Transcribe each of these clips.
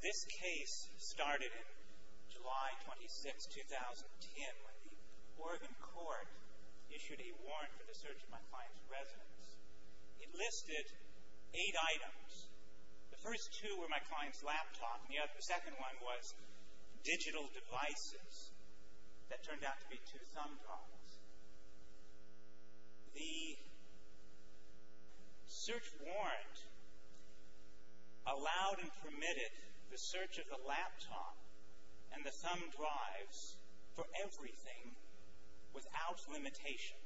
This case started in July 26, 2010, when the Oregon Court issued a warrant for the search of my client's residence. It listed eight items. The first two were my client's laptop, and the second one was digital devices that turned out to be two thumb drives. The search warrant allowed and permitted the search of the laptop and the thumb drives for everything without limitation.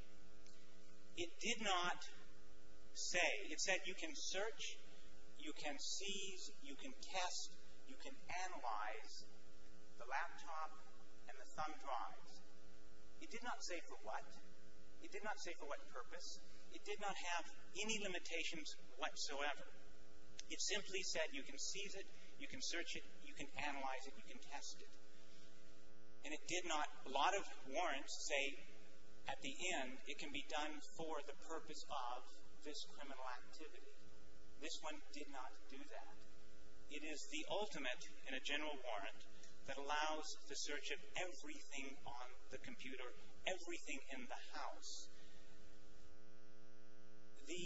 It did not say, it said you can search, you can seize, you can test, you can analyze the laptop and the thumb drives. It did not say for what. It did not say for what purpose. It did not have any limitations whatsoever. It simply said you can seize it, you can search it, you can analyze it, you can test it. And it did not, a lot of warrants say at the end it can be done for the purpose of this criminal activity. This one did not do that. It is the ultimate in a general warrant that allows the search of everything on the computer, everything in the house. The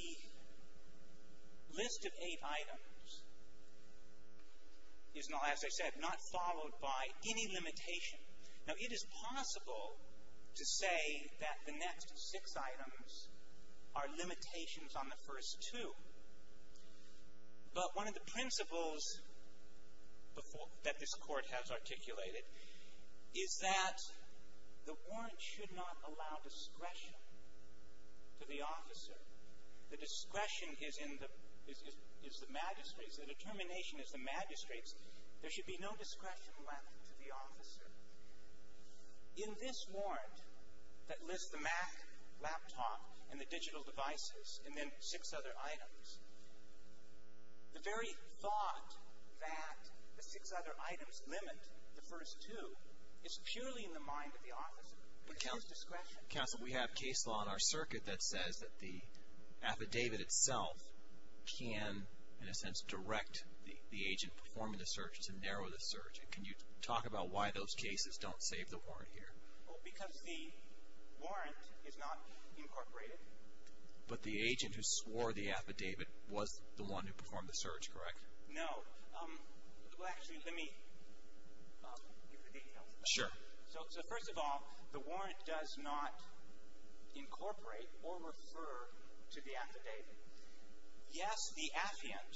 list of eight items is, as I said, not followed by any limitation. Now, it is possible to say that the next six items are limitations on the first two, but one of the principles that this Court has articulated is that the warrant should not allow discretion to the officer. The discretion is in the, is the magistrate's, the determination is the magistrate's. There should be no discretion left to the officer. In this warrant that lists the Mac laptop and the digital devices and then six other items, the very thought that the six other items limit the first two is purely in the mind of the officer. It is discretion. Counsel, we have case law in our circuit that says that the affidavit itself can, in a sense, direct the agent performing the search to narrow the search. Can you talk about why those cases don't save the warrant here? Because the warrant is not incorporated. But the agent who swore the affidavit was the one who performed the search, correct? No. Well, actually, let me give the details. Sure. So, first of all, the warrant does not incorporate or refer to the affidavit. Yes, the affiant,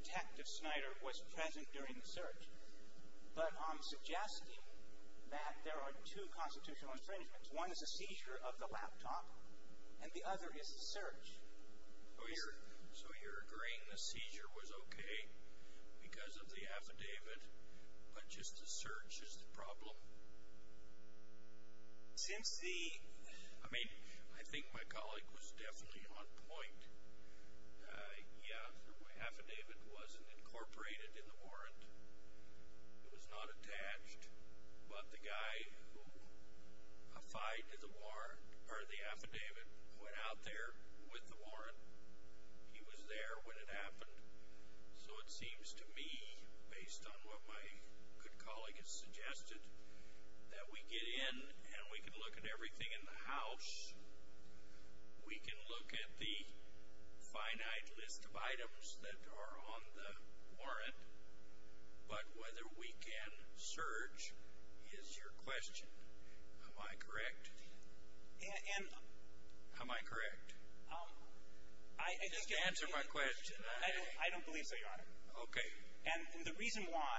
Detective Snyder, was present during the search, but I'm suggesting that there are two constitutional infringements. One is a seizure of the laptop, and the other is the search. So, you're agreeing the seizure was okay because of the affidavit, but just the search is the problem? Since the... I mean, I think my colleague was definitely on point. Yeah, the affidavit wasn't incorporated in the warrant. It was not attached, but the guy who applied to the warrant, or the affidavit, went out there with the warrant. He was there when it happened. So, it seems to me, based on what my good colleague has suggested, that we get in and we can look at everything in the house. We can look at the finite list of items that are on the warrant, but whether we can search is your question. Am I correct? Am I correct? Just answer my question. I don't believe so, Your Honor. Okay. And the reason why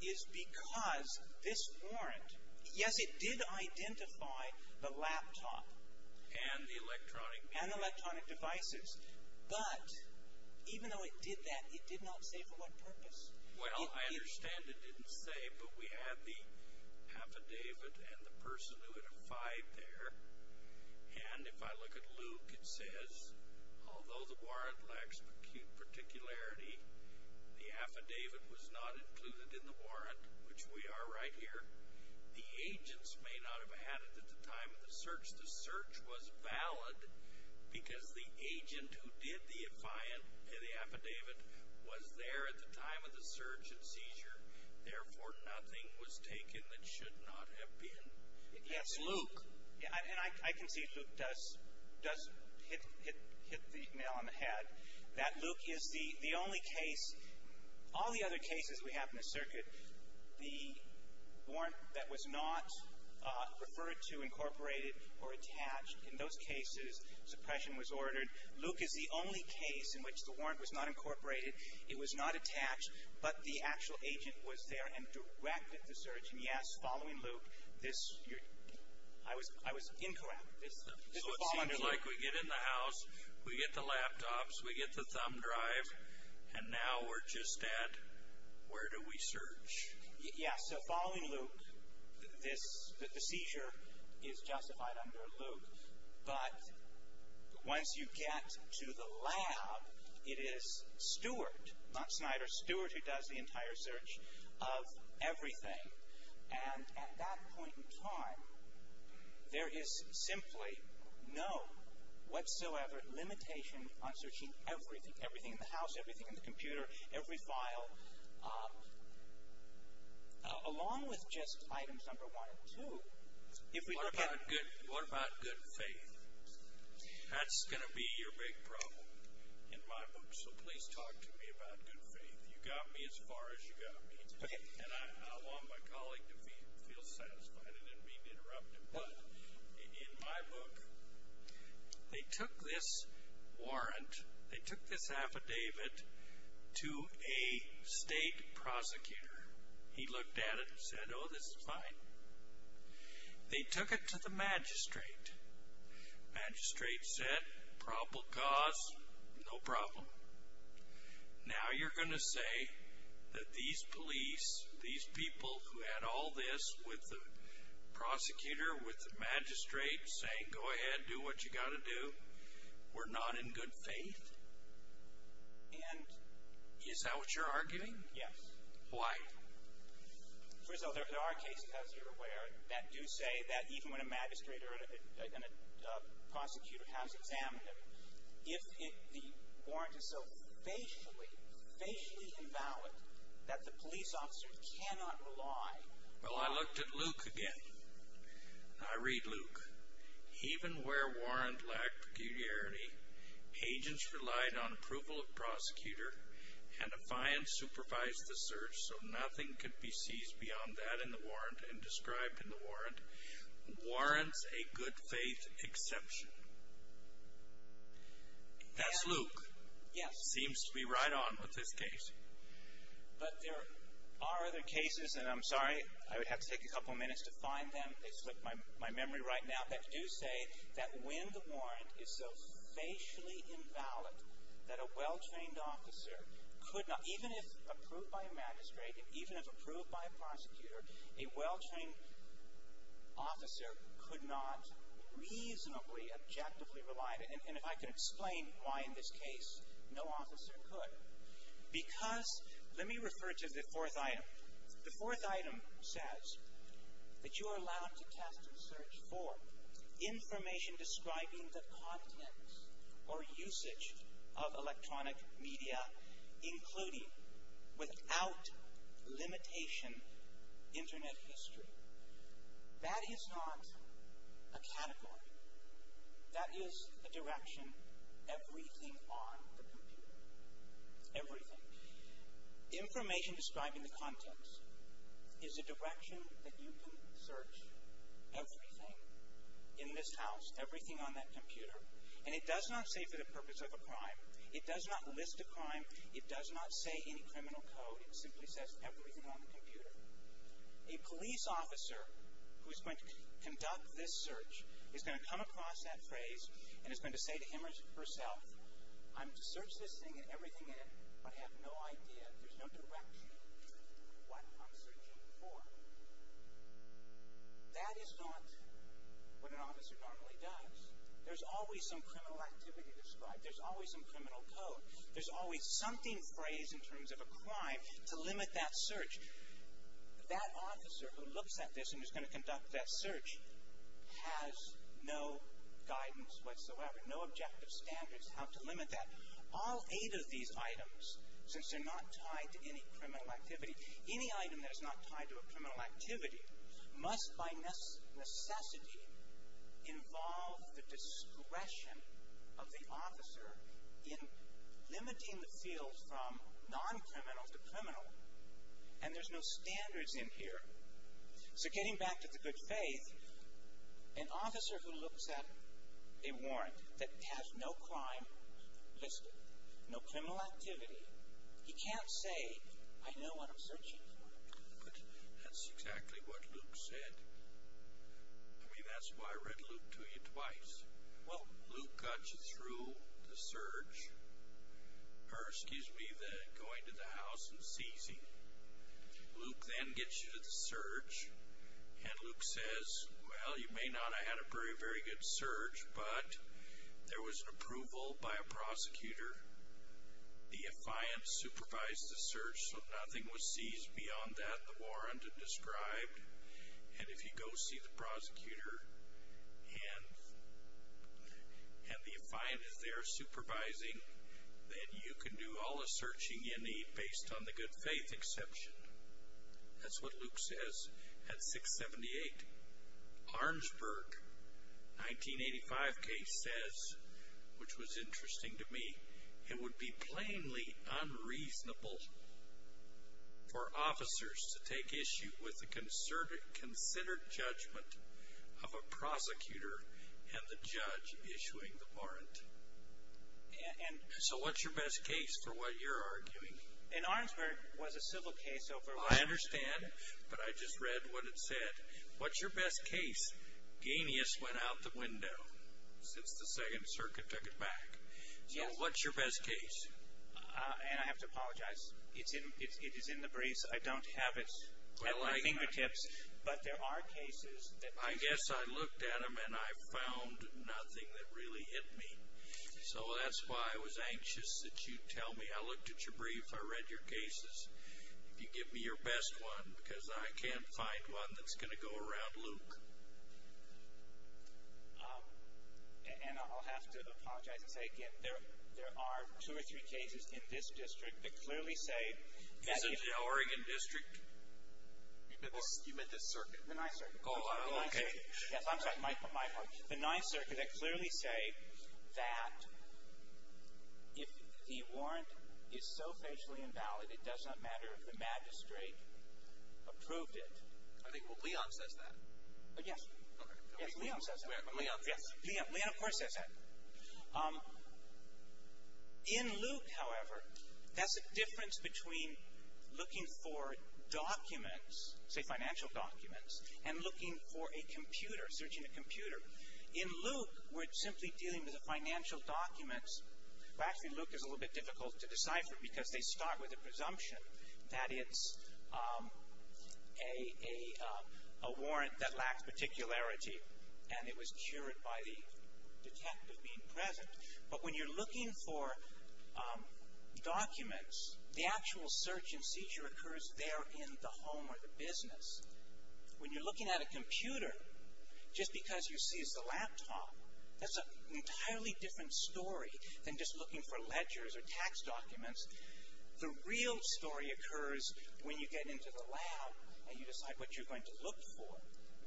is because this warrant, yes, it did identify the laptop. And the electronic devices. And the electronic devices. But even though it did that, it did not say for what purpose. Well, I understand it didn't say, but we had the affidavit and the person who had applied there. And if I look at Luke, it says, although the warrant lacks peculiarity, the affidavit was not included in the warrant, which we are right here. The agents may not have had it at the time of the search. The search was valid because the agent who did the affidavit was there at the time of the search and seizure, therefore, nothing was taken that should not have been. Yes, Luke. And I can see if Luke does hit the nail on the head, that Luke is the only case, all the other cases we have in the circuit, the warrant that was not referred to, incorporated, or attached. In those cases, suppression was ordered. Luke is the only case in which the warrant was not incorporated. It was not attached, but the actual agent was there and directed the search. And yes, following Luke, this, I was incorrect. This would fall under Luke. So it seems like we get in the house, we get the laptops, we get the thumb drive, and now we're just at, where do we search? Yes, so following Luke, the seizure is justified under Luke. But once you get to the lab, it is Stuart, not Snyder, Stuart who does the entire search of everything. And at that point in time, there is simply no whatsoever limitation on searching everything, everything in the house, everything in the computer, every file, along with just items number one and two. If we look at... What about good faith? That's going to be your big problem in my book. So please talk to me about good faith. You got me as far as you got me. And I want my colleague to feel satisfied. I didn't mean to interrupt him. But in my book, they took this warrant, they took this affidavit to a state prosecutor. He looked at it and said, oh, this is fine. They took it to the magistrate. Magistrate said, probable cause, no problem. Now you're going to say that these police, these people who had all this with the prosecutor, with the magistrate saying, go ahead, do what you got to do, we're not in good faith? And... Is that what you're arguing? Yes. Why? First of all, there are cases, as you're aware, that do say that even when a magistrate or a prosecutor has examined them, if the warrant is so facially, facially invalid, that the police officer cannot rely... Well, I looked at Luke again. I read Luke. Even where warrant lacked peculiarity, agents relied on approval of prosecutor, and a fiance supervised the search, so nothing could be seized beyond that in the warrant and described in the warrant, warrants a good faith exception. That's Luke. Yes. Seems to be right on with this case. But there are other cases, and I'm sorry, I would have to take a couple minutes to find them. They slipped my memory right now, that do say that when the warrant is so facially invalid, that a well-trained officer could not, even if approved by a magistrate and even if approved by a prosecutor, a well-trained officer could not reasonably, objectively rely, and if I can explain why in this case, no officer could. Because, let me refer to the fourth item. The fourth item says that you are allowed to test and search for information describing the content or usage of electronic media, including, without limitation, internet history. That is not a category. That is a direction, everything on the computer. Everything. Information describing the contents is a direction that you can search everything in this house, everything on that computer, and it does not say for the purpose of a crime. It does not list a crime. It does not say any criminal code. It simply says everything on the computer. A police officer who is going to conduct this search is going to come across that phrase and is going to say to him or herself, I'm going to search this thing and everything in it, but I have no idea, there's no direction of what I'm searching for. That is not what an officer normally does. There's always some criminal activity described. There's always some criminal code. There's always something phrased in terms of a crime to limit that search. That officer who looks at this and is going to conduct that search has no guidance whatsoever, no objective standards how to limit that. All eight of these items, since they're not tied to any criminal activity, any item that is not tied to a criminal activity must by necessity involve the discretion of the officer in limiting the field from non-criminal to criminal, and there's no standards in here. So getting back to the good faith, an officer who looks at a warrant that has no crime listed, no criminal activity, he can't say, I know what I'm searching for. That's exactly what Luke said. I mean, that's why I read Luke to you twice. Well, Luke got you through the search, or excuse me, the going to the house and seizing. Luke then gets you to the search, and Luke says, well, you may not have had a very, good search, but there was an approval by a prosecutor. The affiant supervised the search, so nothing was seized beyond that the warrant had described, and if you go see the prosecutor and the affiant is there supervising, then you can do all the searching you need based on the 1985 case says, which was interesting to me, it would be plainly unreasonable for officers to take issue with the considered judgment of a prosecutor and the judge issuing the warrant. So what's your best case for what you're arguing? In Arnsberg was a civil case over I understand, but I just read what it said. What's your best case? Ganius went out the window since the second circuit took it back. So what's your best case? And I have to apologize. It's in the briefs. I don't have it at my fingertips, but there are cases that I guess I looked at them and I found nothing that really hit me. So that's why I was anxious that you tell me. I looked at your best one because I can't find one that's going to go around Luke. And I'll have to apologize and say again, there are two or three cases in this district that clearly say. Isn't it the Oregon district? You meant the circuit? The ninth circuit. Yes, I'm sorry, my fault. The ninth circuit that clearly say that if the warrant is so facially invalid, it does not matter if the district approved it. I think Leon says that. Yes, Leon says that. Leon, of course, says that. In Luke, however, that's a difference between looking for documents, say financial documents, and looking for a computer, searching a computer. In Luke, we're simply dealing with the financial documents. Actually, Luke is a little bit difficult to decipher because they start with a presumption that it's a warrant that lacks particularity and it was cured by the detective being present. But when you're looking for documents, the actual search and seizure occurs there in the home or the business. When you're looking at a computer, just because you see it's a laptop, that's an when you get into the lab and you decide what you're going to look for.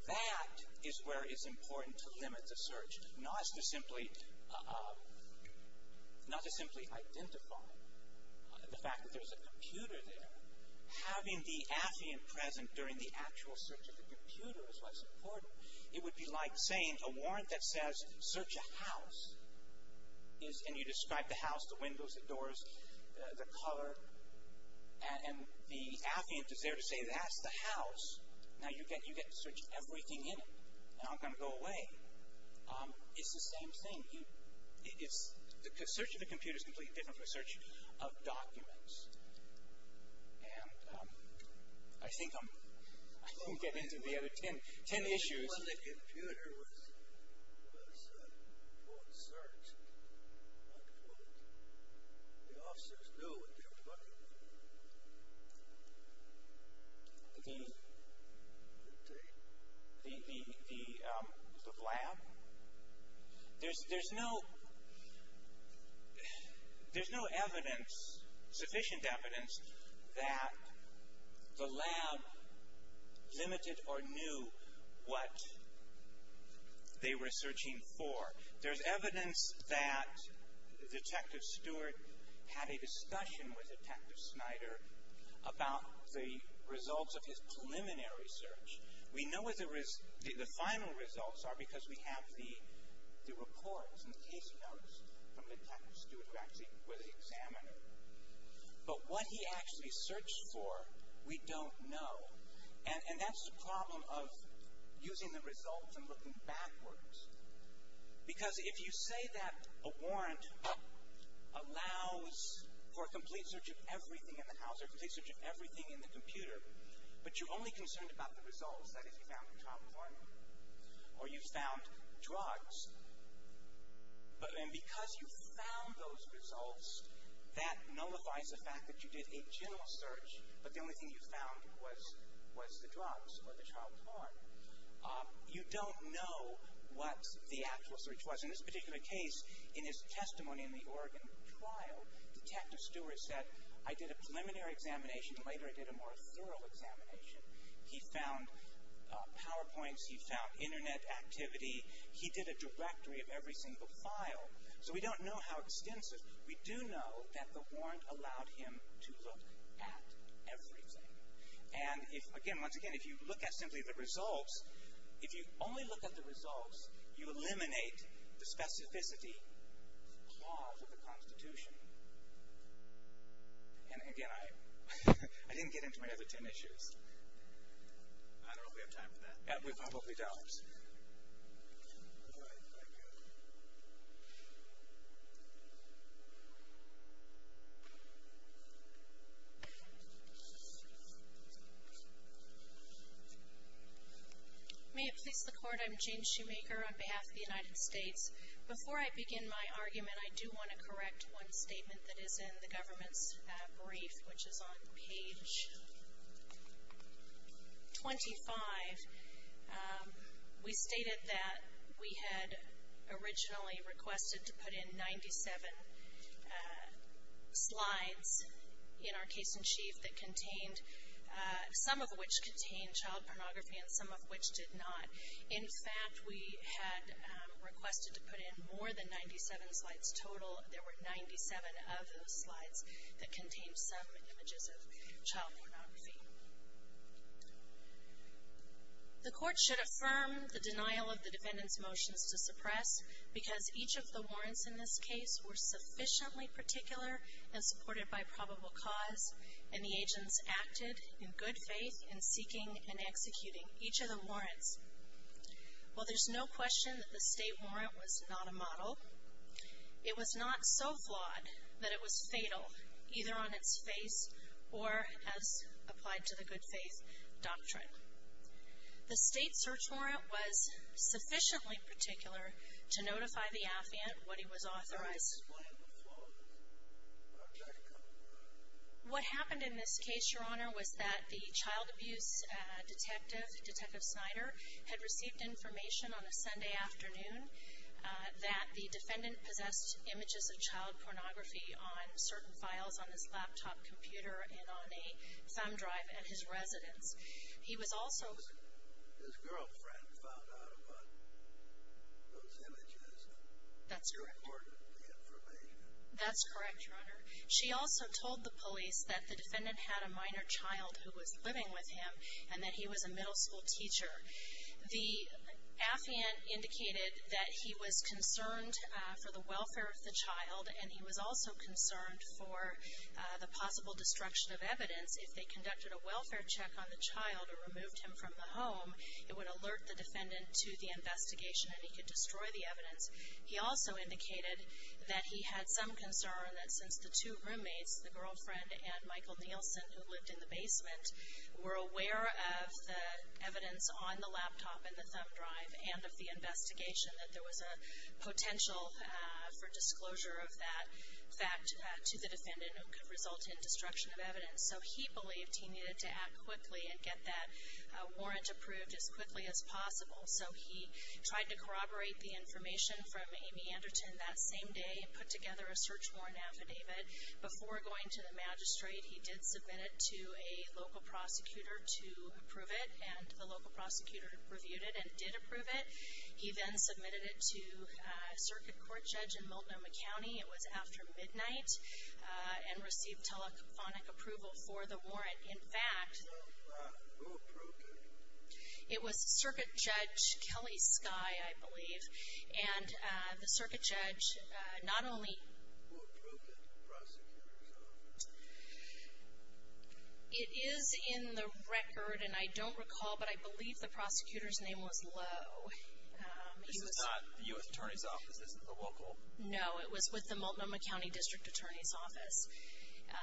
That is where it's important to limit the search, not to simply identify the fact that there's a computer there. Having the affiant present during the actual search of the computer is what's important. It would be like saying a warrant that says, search a house, and you describe the house, the windows, the doors, the color, and the affiant is there to say that's the house. Now, you get to search everything in it. I'm not going to go away. It's the same thing. Searching the computer is completely different from the search of documents. I think I'm getting into the other 10 issues. When the computer was for the search, what would the officers do with their money? The lab? There's no sufficient evidence that the lab limited or knew what they were searching for. There's evidence that Detective Stewart had a discussion with Detective Snyder about the results of his preliminary search. We know what the final results are because we have the reports and the case notes from Detective Stewart where they examine it. But what he actually searched for, we don't know. And that's the problem of using the results and looking backwards. Because if you say that a warrant allows for a complete search of everything in the house, a complete search of everything in the computer, but you're only concerned about the results, that is, you found child porn or you found drugs, and because you found those results, that nullifies the fact that you did a general search but the only thing you found was the drugs or the child porn. You don't know what the actual search was. In this particular case, in his testimony in the Oregon trial, Detective Stewart said, I did a preliminary examination. Later, I did a more thorough examination. He found PowerPoints. He found internet activity. He did a directory of every single file. So we don't know how extensive. We do know that the warrant allowed him to look at everything. And if, again, once again, if you look at simply the results, if you only look at the results, you eliminate the specificity clause of the Constitution. And again, I didn't get into my other 10 issues. I don't know if we have time for that. We probably don't. May it please the Court, I'm Jane Shoemaker on behalf of the United States. Before I begin my argument, I do want to correct one statement that is in the government's brief, which is on page 25. We stated that we had originally requested to put in 97 slides in our case in chief that contained, some of which contained child pornography and some of did not. In fact, we had requested to put in more than 97 slides total. There were 97 of those slides that contained some images of child pornography. The Court should affirm the denial of the defendant's motions to suppress because each of the warrants in this case were sufficiently particular and supported by probable cause and the agents acted in good faith in seeking and executing each of the warrants. While there's no question that the state warrant was not a model, it was not so flawed that it was fatal either on its face or as applied to the good faith doctrine. The state search warrant was sufficiently particular to notify the affiant what he was authorized to do. What happened in this case, Your Honor, was that the child abuse detective Snyder had received information on a Sunday afternoon that the defendant possessed images of child pornography on certain files on his laptop computer and on a thumb drive at his residence. He was also... His girlfriend found out about those images and recorded the information. That's correct, Your Honor. She also told the police that the defendant had a minor child who was living with him and that he was a middle school teacher. The affiant indicated that he was concerned for the welfare of the child and he was also concerned for the possible destruction of evidence if they conducted a welfare check on the child or removed him from the home. It would alert the defendant to the investigation and he could destroy the evidence. He also indicated that he had some concern that since the two roommates, the girlfriend and Michael Nielsen, who lived in the basement, were aware of the evidence on the laptop and the thumb drive and of the investigation, that there was a potential for disclosure of that fact to the defendant who could result in destruction of evidence. So he believed he needed to act quickly and get that warrant approved as quickly as possible. So he tried to corroborate the information from Amy Anderton that same day and put together a search warrant affidavit before going to the magistrate. He did submit it to a local prosecutor to approve it and the local prosecutor reviewed it and did approve it. He then submitted it to a circuit court judge in Multnomah County. It was after midnight and received telephonic approval for the warrant. In fact, it was circuit judge Kelly Skye, I believe, and the circuit judge not only it is in the record and I don't recall, but I believe the prosecutor's name was Lowe. This is not the U.S. Attorney's Office? This is a local? No, it was with the Multnomah County District Attorney's Office.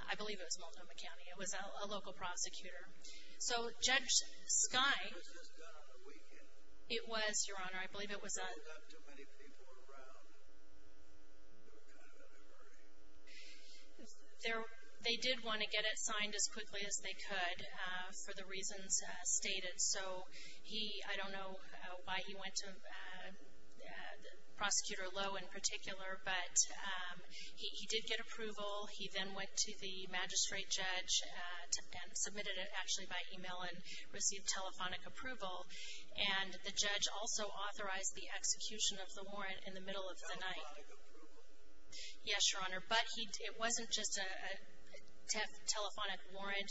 I believe it was Multnomah County. It was a local prosecutor. So Judge Skye. It was just done on the weekend. It was, Your Honor. I believe it was a... There were not too many people around. What kind of inquiry? They did want to get it signed as quickly as they could for the reasons stated. So he, I don't know why he went to Prosecutor Lowe in particular, but he did get approval. He then went to the District Attorney's Office, which is where he received the telephonic approval. And the judge also authorized the execution of the warrant in the middle of the night. Telephonic approval? Yes, Your Honor. But it wasn't just a telephonic warrant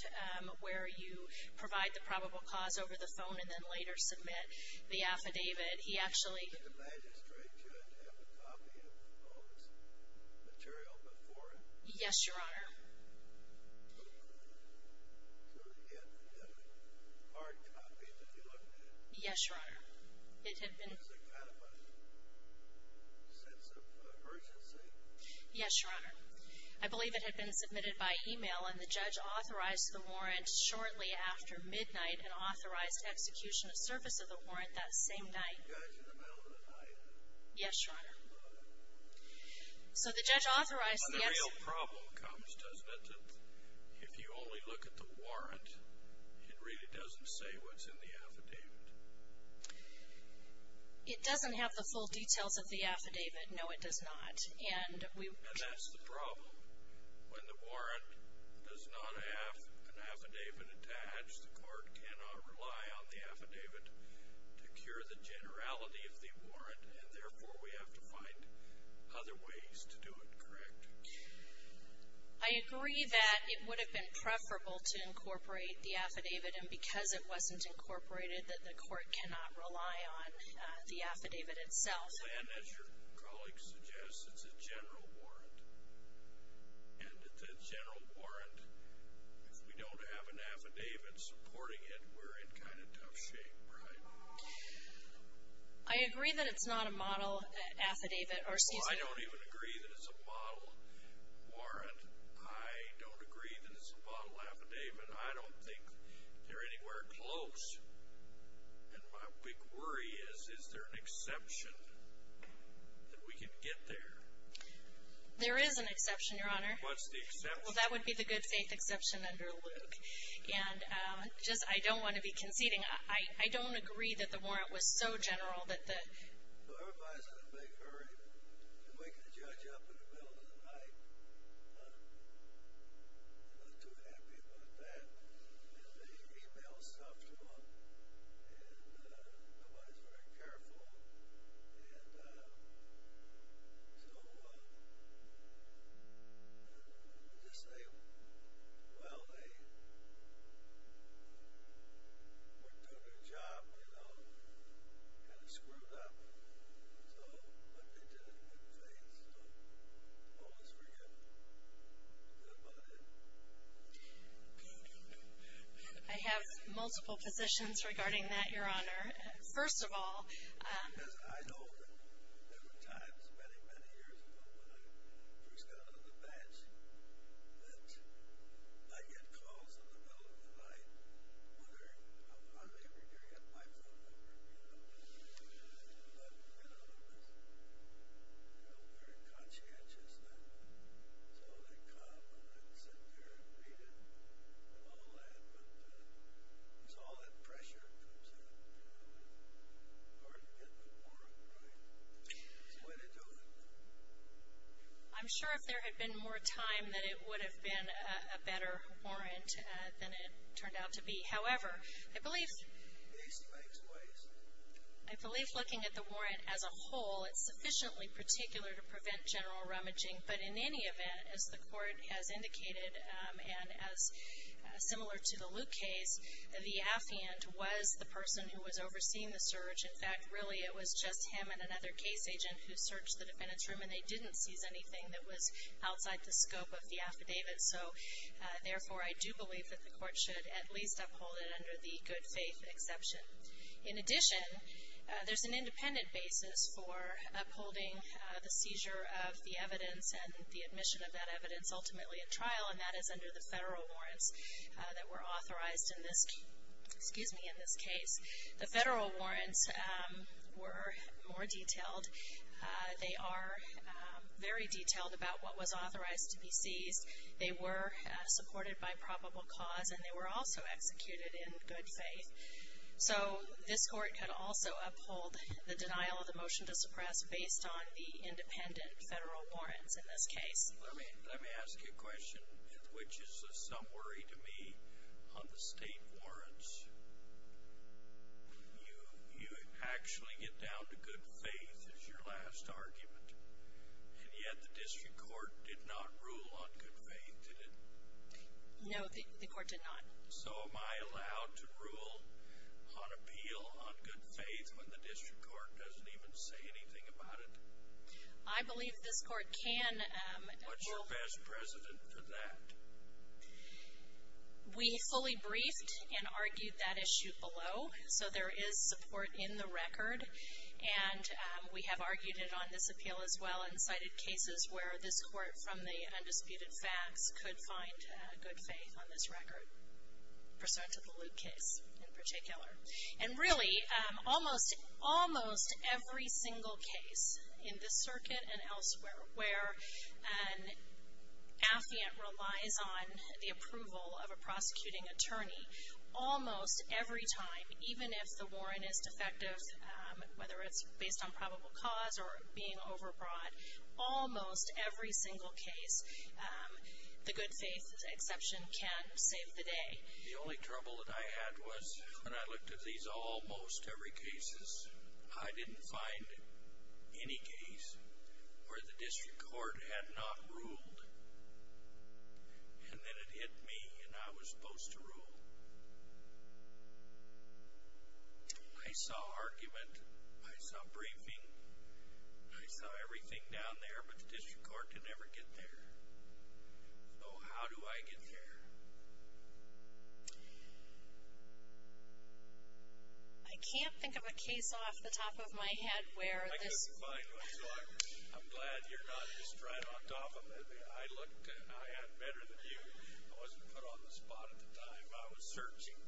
where you provide the probable cause over the phone and then later submit the affidavit. He actually... Did the magistrate judge have a copy of the phone's material before it? Yes, Your Honor. So he had a hard copy that he looked at? Yes, Your Honor. It had been... Was it kind of a sense of urgency? Yes, Your Honor. I believe it had been submitted by email and the judge authorized the warrant shortly after midnight and authorized execution of service of the warrant that same night. So the judge in the middle of the night? Yes, Your Honor. So the judge authorized... The real problem comes, doesn't it, that if you only look at the warrant, it really doesn't say what's in the affidavit? It doesn't have the full details of the affidavit. No, it does not. And we... And that's the problem. When the warrant does not have an affidavit attached, the court cannot rely on the affidavit to cure the generality of the warrant, and therefore we have to find other ways to do it correct. I agree that it would have been preferable to incorporate the affidavit, and because it wasn't incorporated, that the court cannot rely on the affidavit itself. And as your colleague suggests, it's a general warrant. And with a general warrant, if we don't have an affidavit supporting it, we're in kind of tough shape, right? I agree that it's not a model affidavit, or excuse me... I don't even agree that it's a model warrant. I don't agree that it's a model affidavit. I don't think they're anywhere close. And my big worry is, is there an exception that we can get there? There is an exception, Your Honor. What's the exception? Well, that would be the good faith exception under Luke. And just... I don't want to be that the warrant was so general that the... Well, everybody's in a big hurry. They're waking the judge up in the middle of the night. Not too happy about that. And they email stuff to him, and nobody's very careful. And so, I would just say, well, they were doing their job, you know, kind of screwed up. So, but they did it in good faith. So, always forget good money. I have multiple positions regarding that, Your Honor. First of all... I know that there were times many, many years ago, when I first got on the bench, that I'd get calls in the middle of the night, whether I'm here or there. I had my phone number, you know. But none of them was, you know, very conscientious then. So, they'd come, and I'd sit there and read it, and all that. But it's all that pressure that comes up. I'm sure if there had been more time, that it would have been a better warrant than it turned out to be. However, I believe looking at the warrant as a whole, it's sufficiently particular to prevent general rummaging. But in any event, as the court has indicated, and as similar to the Luke case, the affiant was the person who was overseeing the search. In fact, really, it was just him and another case agent who searched the defendant's room, and they didn't seize anything that was outside the scope of the affidavit. So, therefore, I do believe that the court should at least uphold it under the good faith exception. In addition, there's an independent basis for upholding the seizure of the evidence and the admission of that evidence, ultimately, at trial, and that is under the federal warrants that were authorized in this case. The federal warrants were more detailed. They are very detailed about what was authorized to be seized. They were supported by probable cause, and they were also executed in good faith. So, this court could also uphold the denial of the motion to suppress based on the independent federal warrants in this case. Let me ask you a question, which is of some worry to me, on the state warrants. You actually get down to good faith as your last argument, and yet the district court did not rule on good faith, did it? No, the court did not. So, am I allowed to rule on appeal on good faith when the district court doesn't even say anything about it? I believe this court can. What's your best precedent for that? We fully briefed and argued that issue below, so there is support in the record, and we have argued it on this appeal as well and cited cases where this court, from the undisputed facts, could find good faith on this record, pursuant to the Luke case in particular. And really, almost every single case in this circuit and elsewhere where an affiant relies on the approval of a prosecuting attorney, almost every time, even if the warrant is defective, whether it's based on probable cause or being overbought, almost every single case, the good faith exception can save the I didn't find any case where the district court had not ruled, and then it hit me, and I was supposed to rule. I saw argument. I saw briefing. I saw everything down there, but the district court could never get there. So, how do I get there? I can't think of a case off the top of my head where this I couldn't find one, so I'm glad you're not just right on top of it. I had better than you. I wasn't put on the spot at the time. I was searching,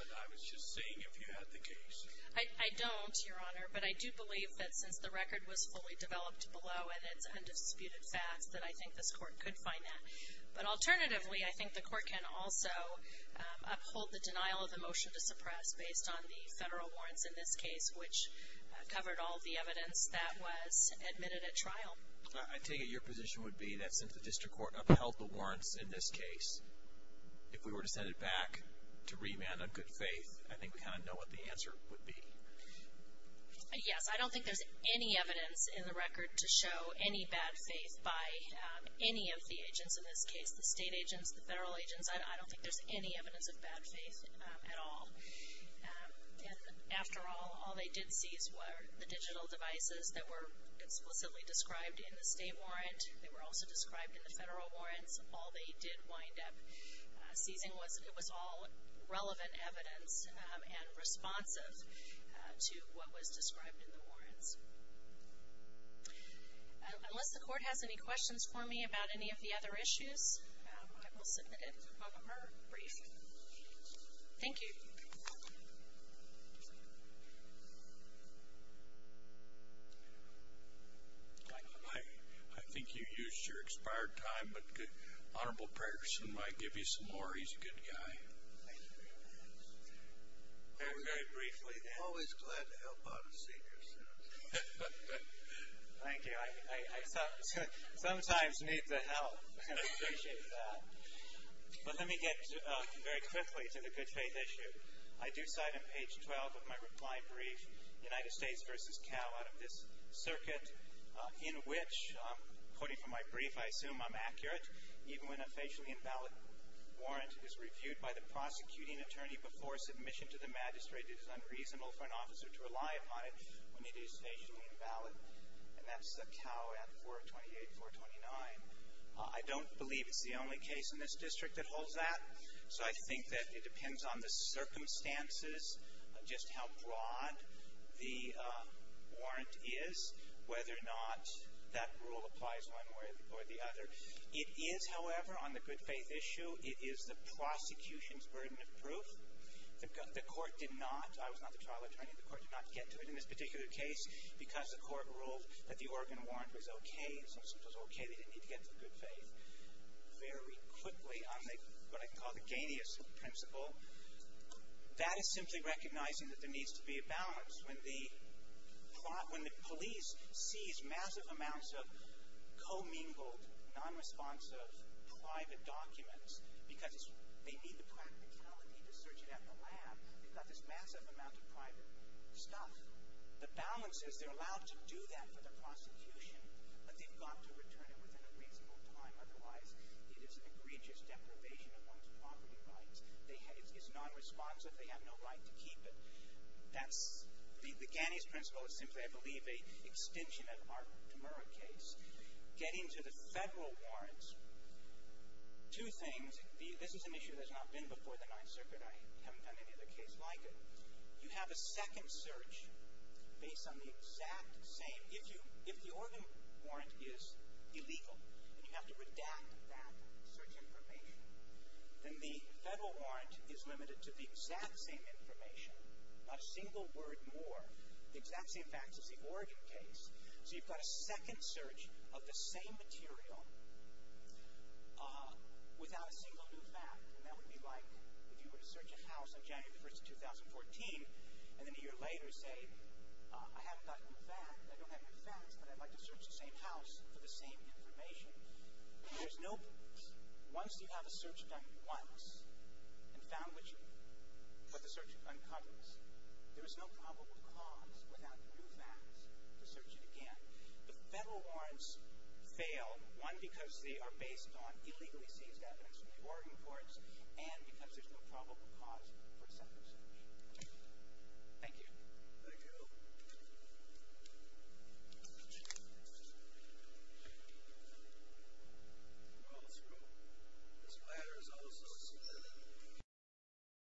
but I was just seeing if you had the case. I don't, Your Honor, but I do believe that since the record was fully developed below and it's undisputed facts, that I think this court could find that. But alternatively, I think the court can also uphold the denial of the motion to suppress based on the federal warrants in this case, which covered all the evidence that was admitted at trial. I take it your position would be that since the district court upheld the warrants in this case, if we were to send it back to remand on good faith, I think we kind of know what the answer would be. Yes, I don't think there's any evidence in the record to show any bad faith by any of the agents in this case, the state agents, the federal agents. I don't think there's any evidence of bad faith at all. And after all, all they did seize were the digital devices that were explicitly described in the state warrant. They were also described in the federal warrants. All they did wind up seizing was it was all relevant evidence and responsive to what was described in the warrants. Unless the court has any questions for me about any of the other issues, I will submit it to her briefly. Thank you. I think you used your expired time, but Honorable Patterson might give you some more. He's a good guy. Thank you. I sometimes need the help. I appreciate that. But let me get very quickly to the good faith issue. I do cite on page 12 of my reply brief, United States versus Cal out of this circuit, in which, quoting from my brief, I assume I'm accurate, even when a facially invalid warrant is reviewed by the prosecuting attorney before submission to the magistrate, it is invalid. And that's the Cal ad 428, 429. I don't believe it's the only case in this district that holds that. So I think that it depends on the circumstances, just how broad the warrant is, whether or not that rule applies one way or the other. It is, however, on the good faith issue, it is the prosecution's burden of proof. The court did not, I was not the trial attorney, the court did not get to it in this particular case, because the court ruled that the organ warrant was okay, and since it was okay, they didn't need to get to the good faith. Very quickly on the, what I call the gaineous principle, that is simply recognizing that there needs to be a balance. When the police seize massive amounts of commingled, nonresponsive, private documents, because they need the practicality to search it at the lab, they've got this massive amount of private stuff. The balance is they're allowed to do that for the prosecution, but they've got to return it within a reasonable time, otherwise it is an egregious deprivation of one's property rights. It's nonresponsive, they have no right to keep it. That's the gaineous principle, it's simply, I believe, an extension of our Demurra case. Getting to the federal warrants, two things, this is an issue that's not been before the 9th Circuit, I haven't done any other case like it. You have a second search based on the exact same, if you, if the organ warrant is illegal, and you have to redact that search information, then the federal warrant is limited to the exact same information, not a single word more, the exact same facts as the organ case. So you've got a second search of the same material without a single new fact, and that would be like if you were to search a house on January the 1st of 2014, and then a year later say, I haven't got a new fact, I don't have new facts, but I'd like to search the same house for the same information. There's no, once you have a search done once, and found what you, what the search uncovers, there is no probable cause without new facts to search it again. The federal warrants fail, one, because they are based on illegally seized evidence from the organ courts, and because there's no probable cause for a second search. Thank you. Thank you. Well, this ladder is also spinning.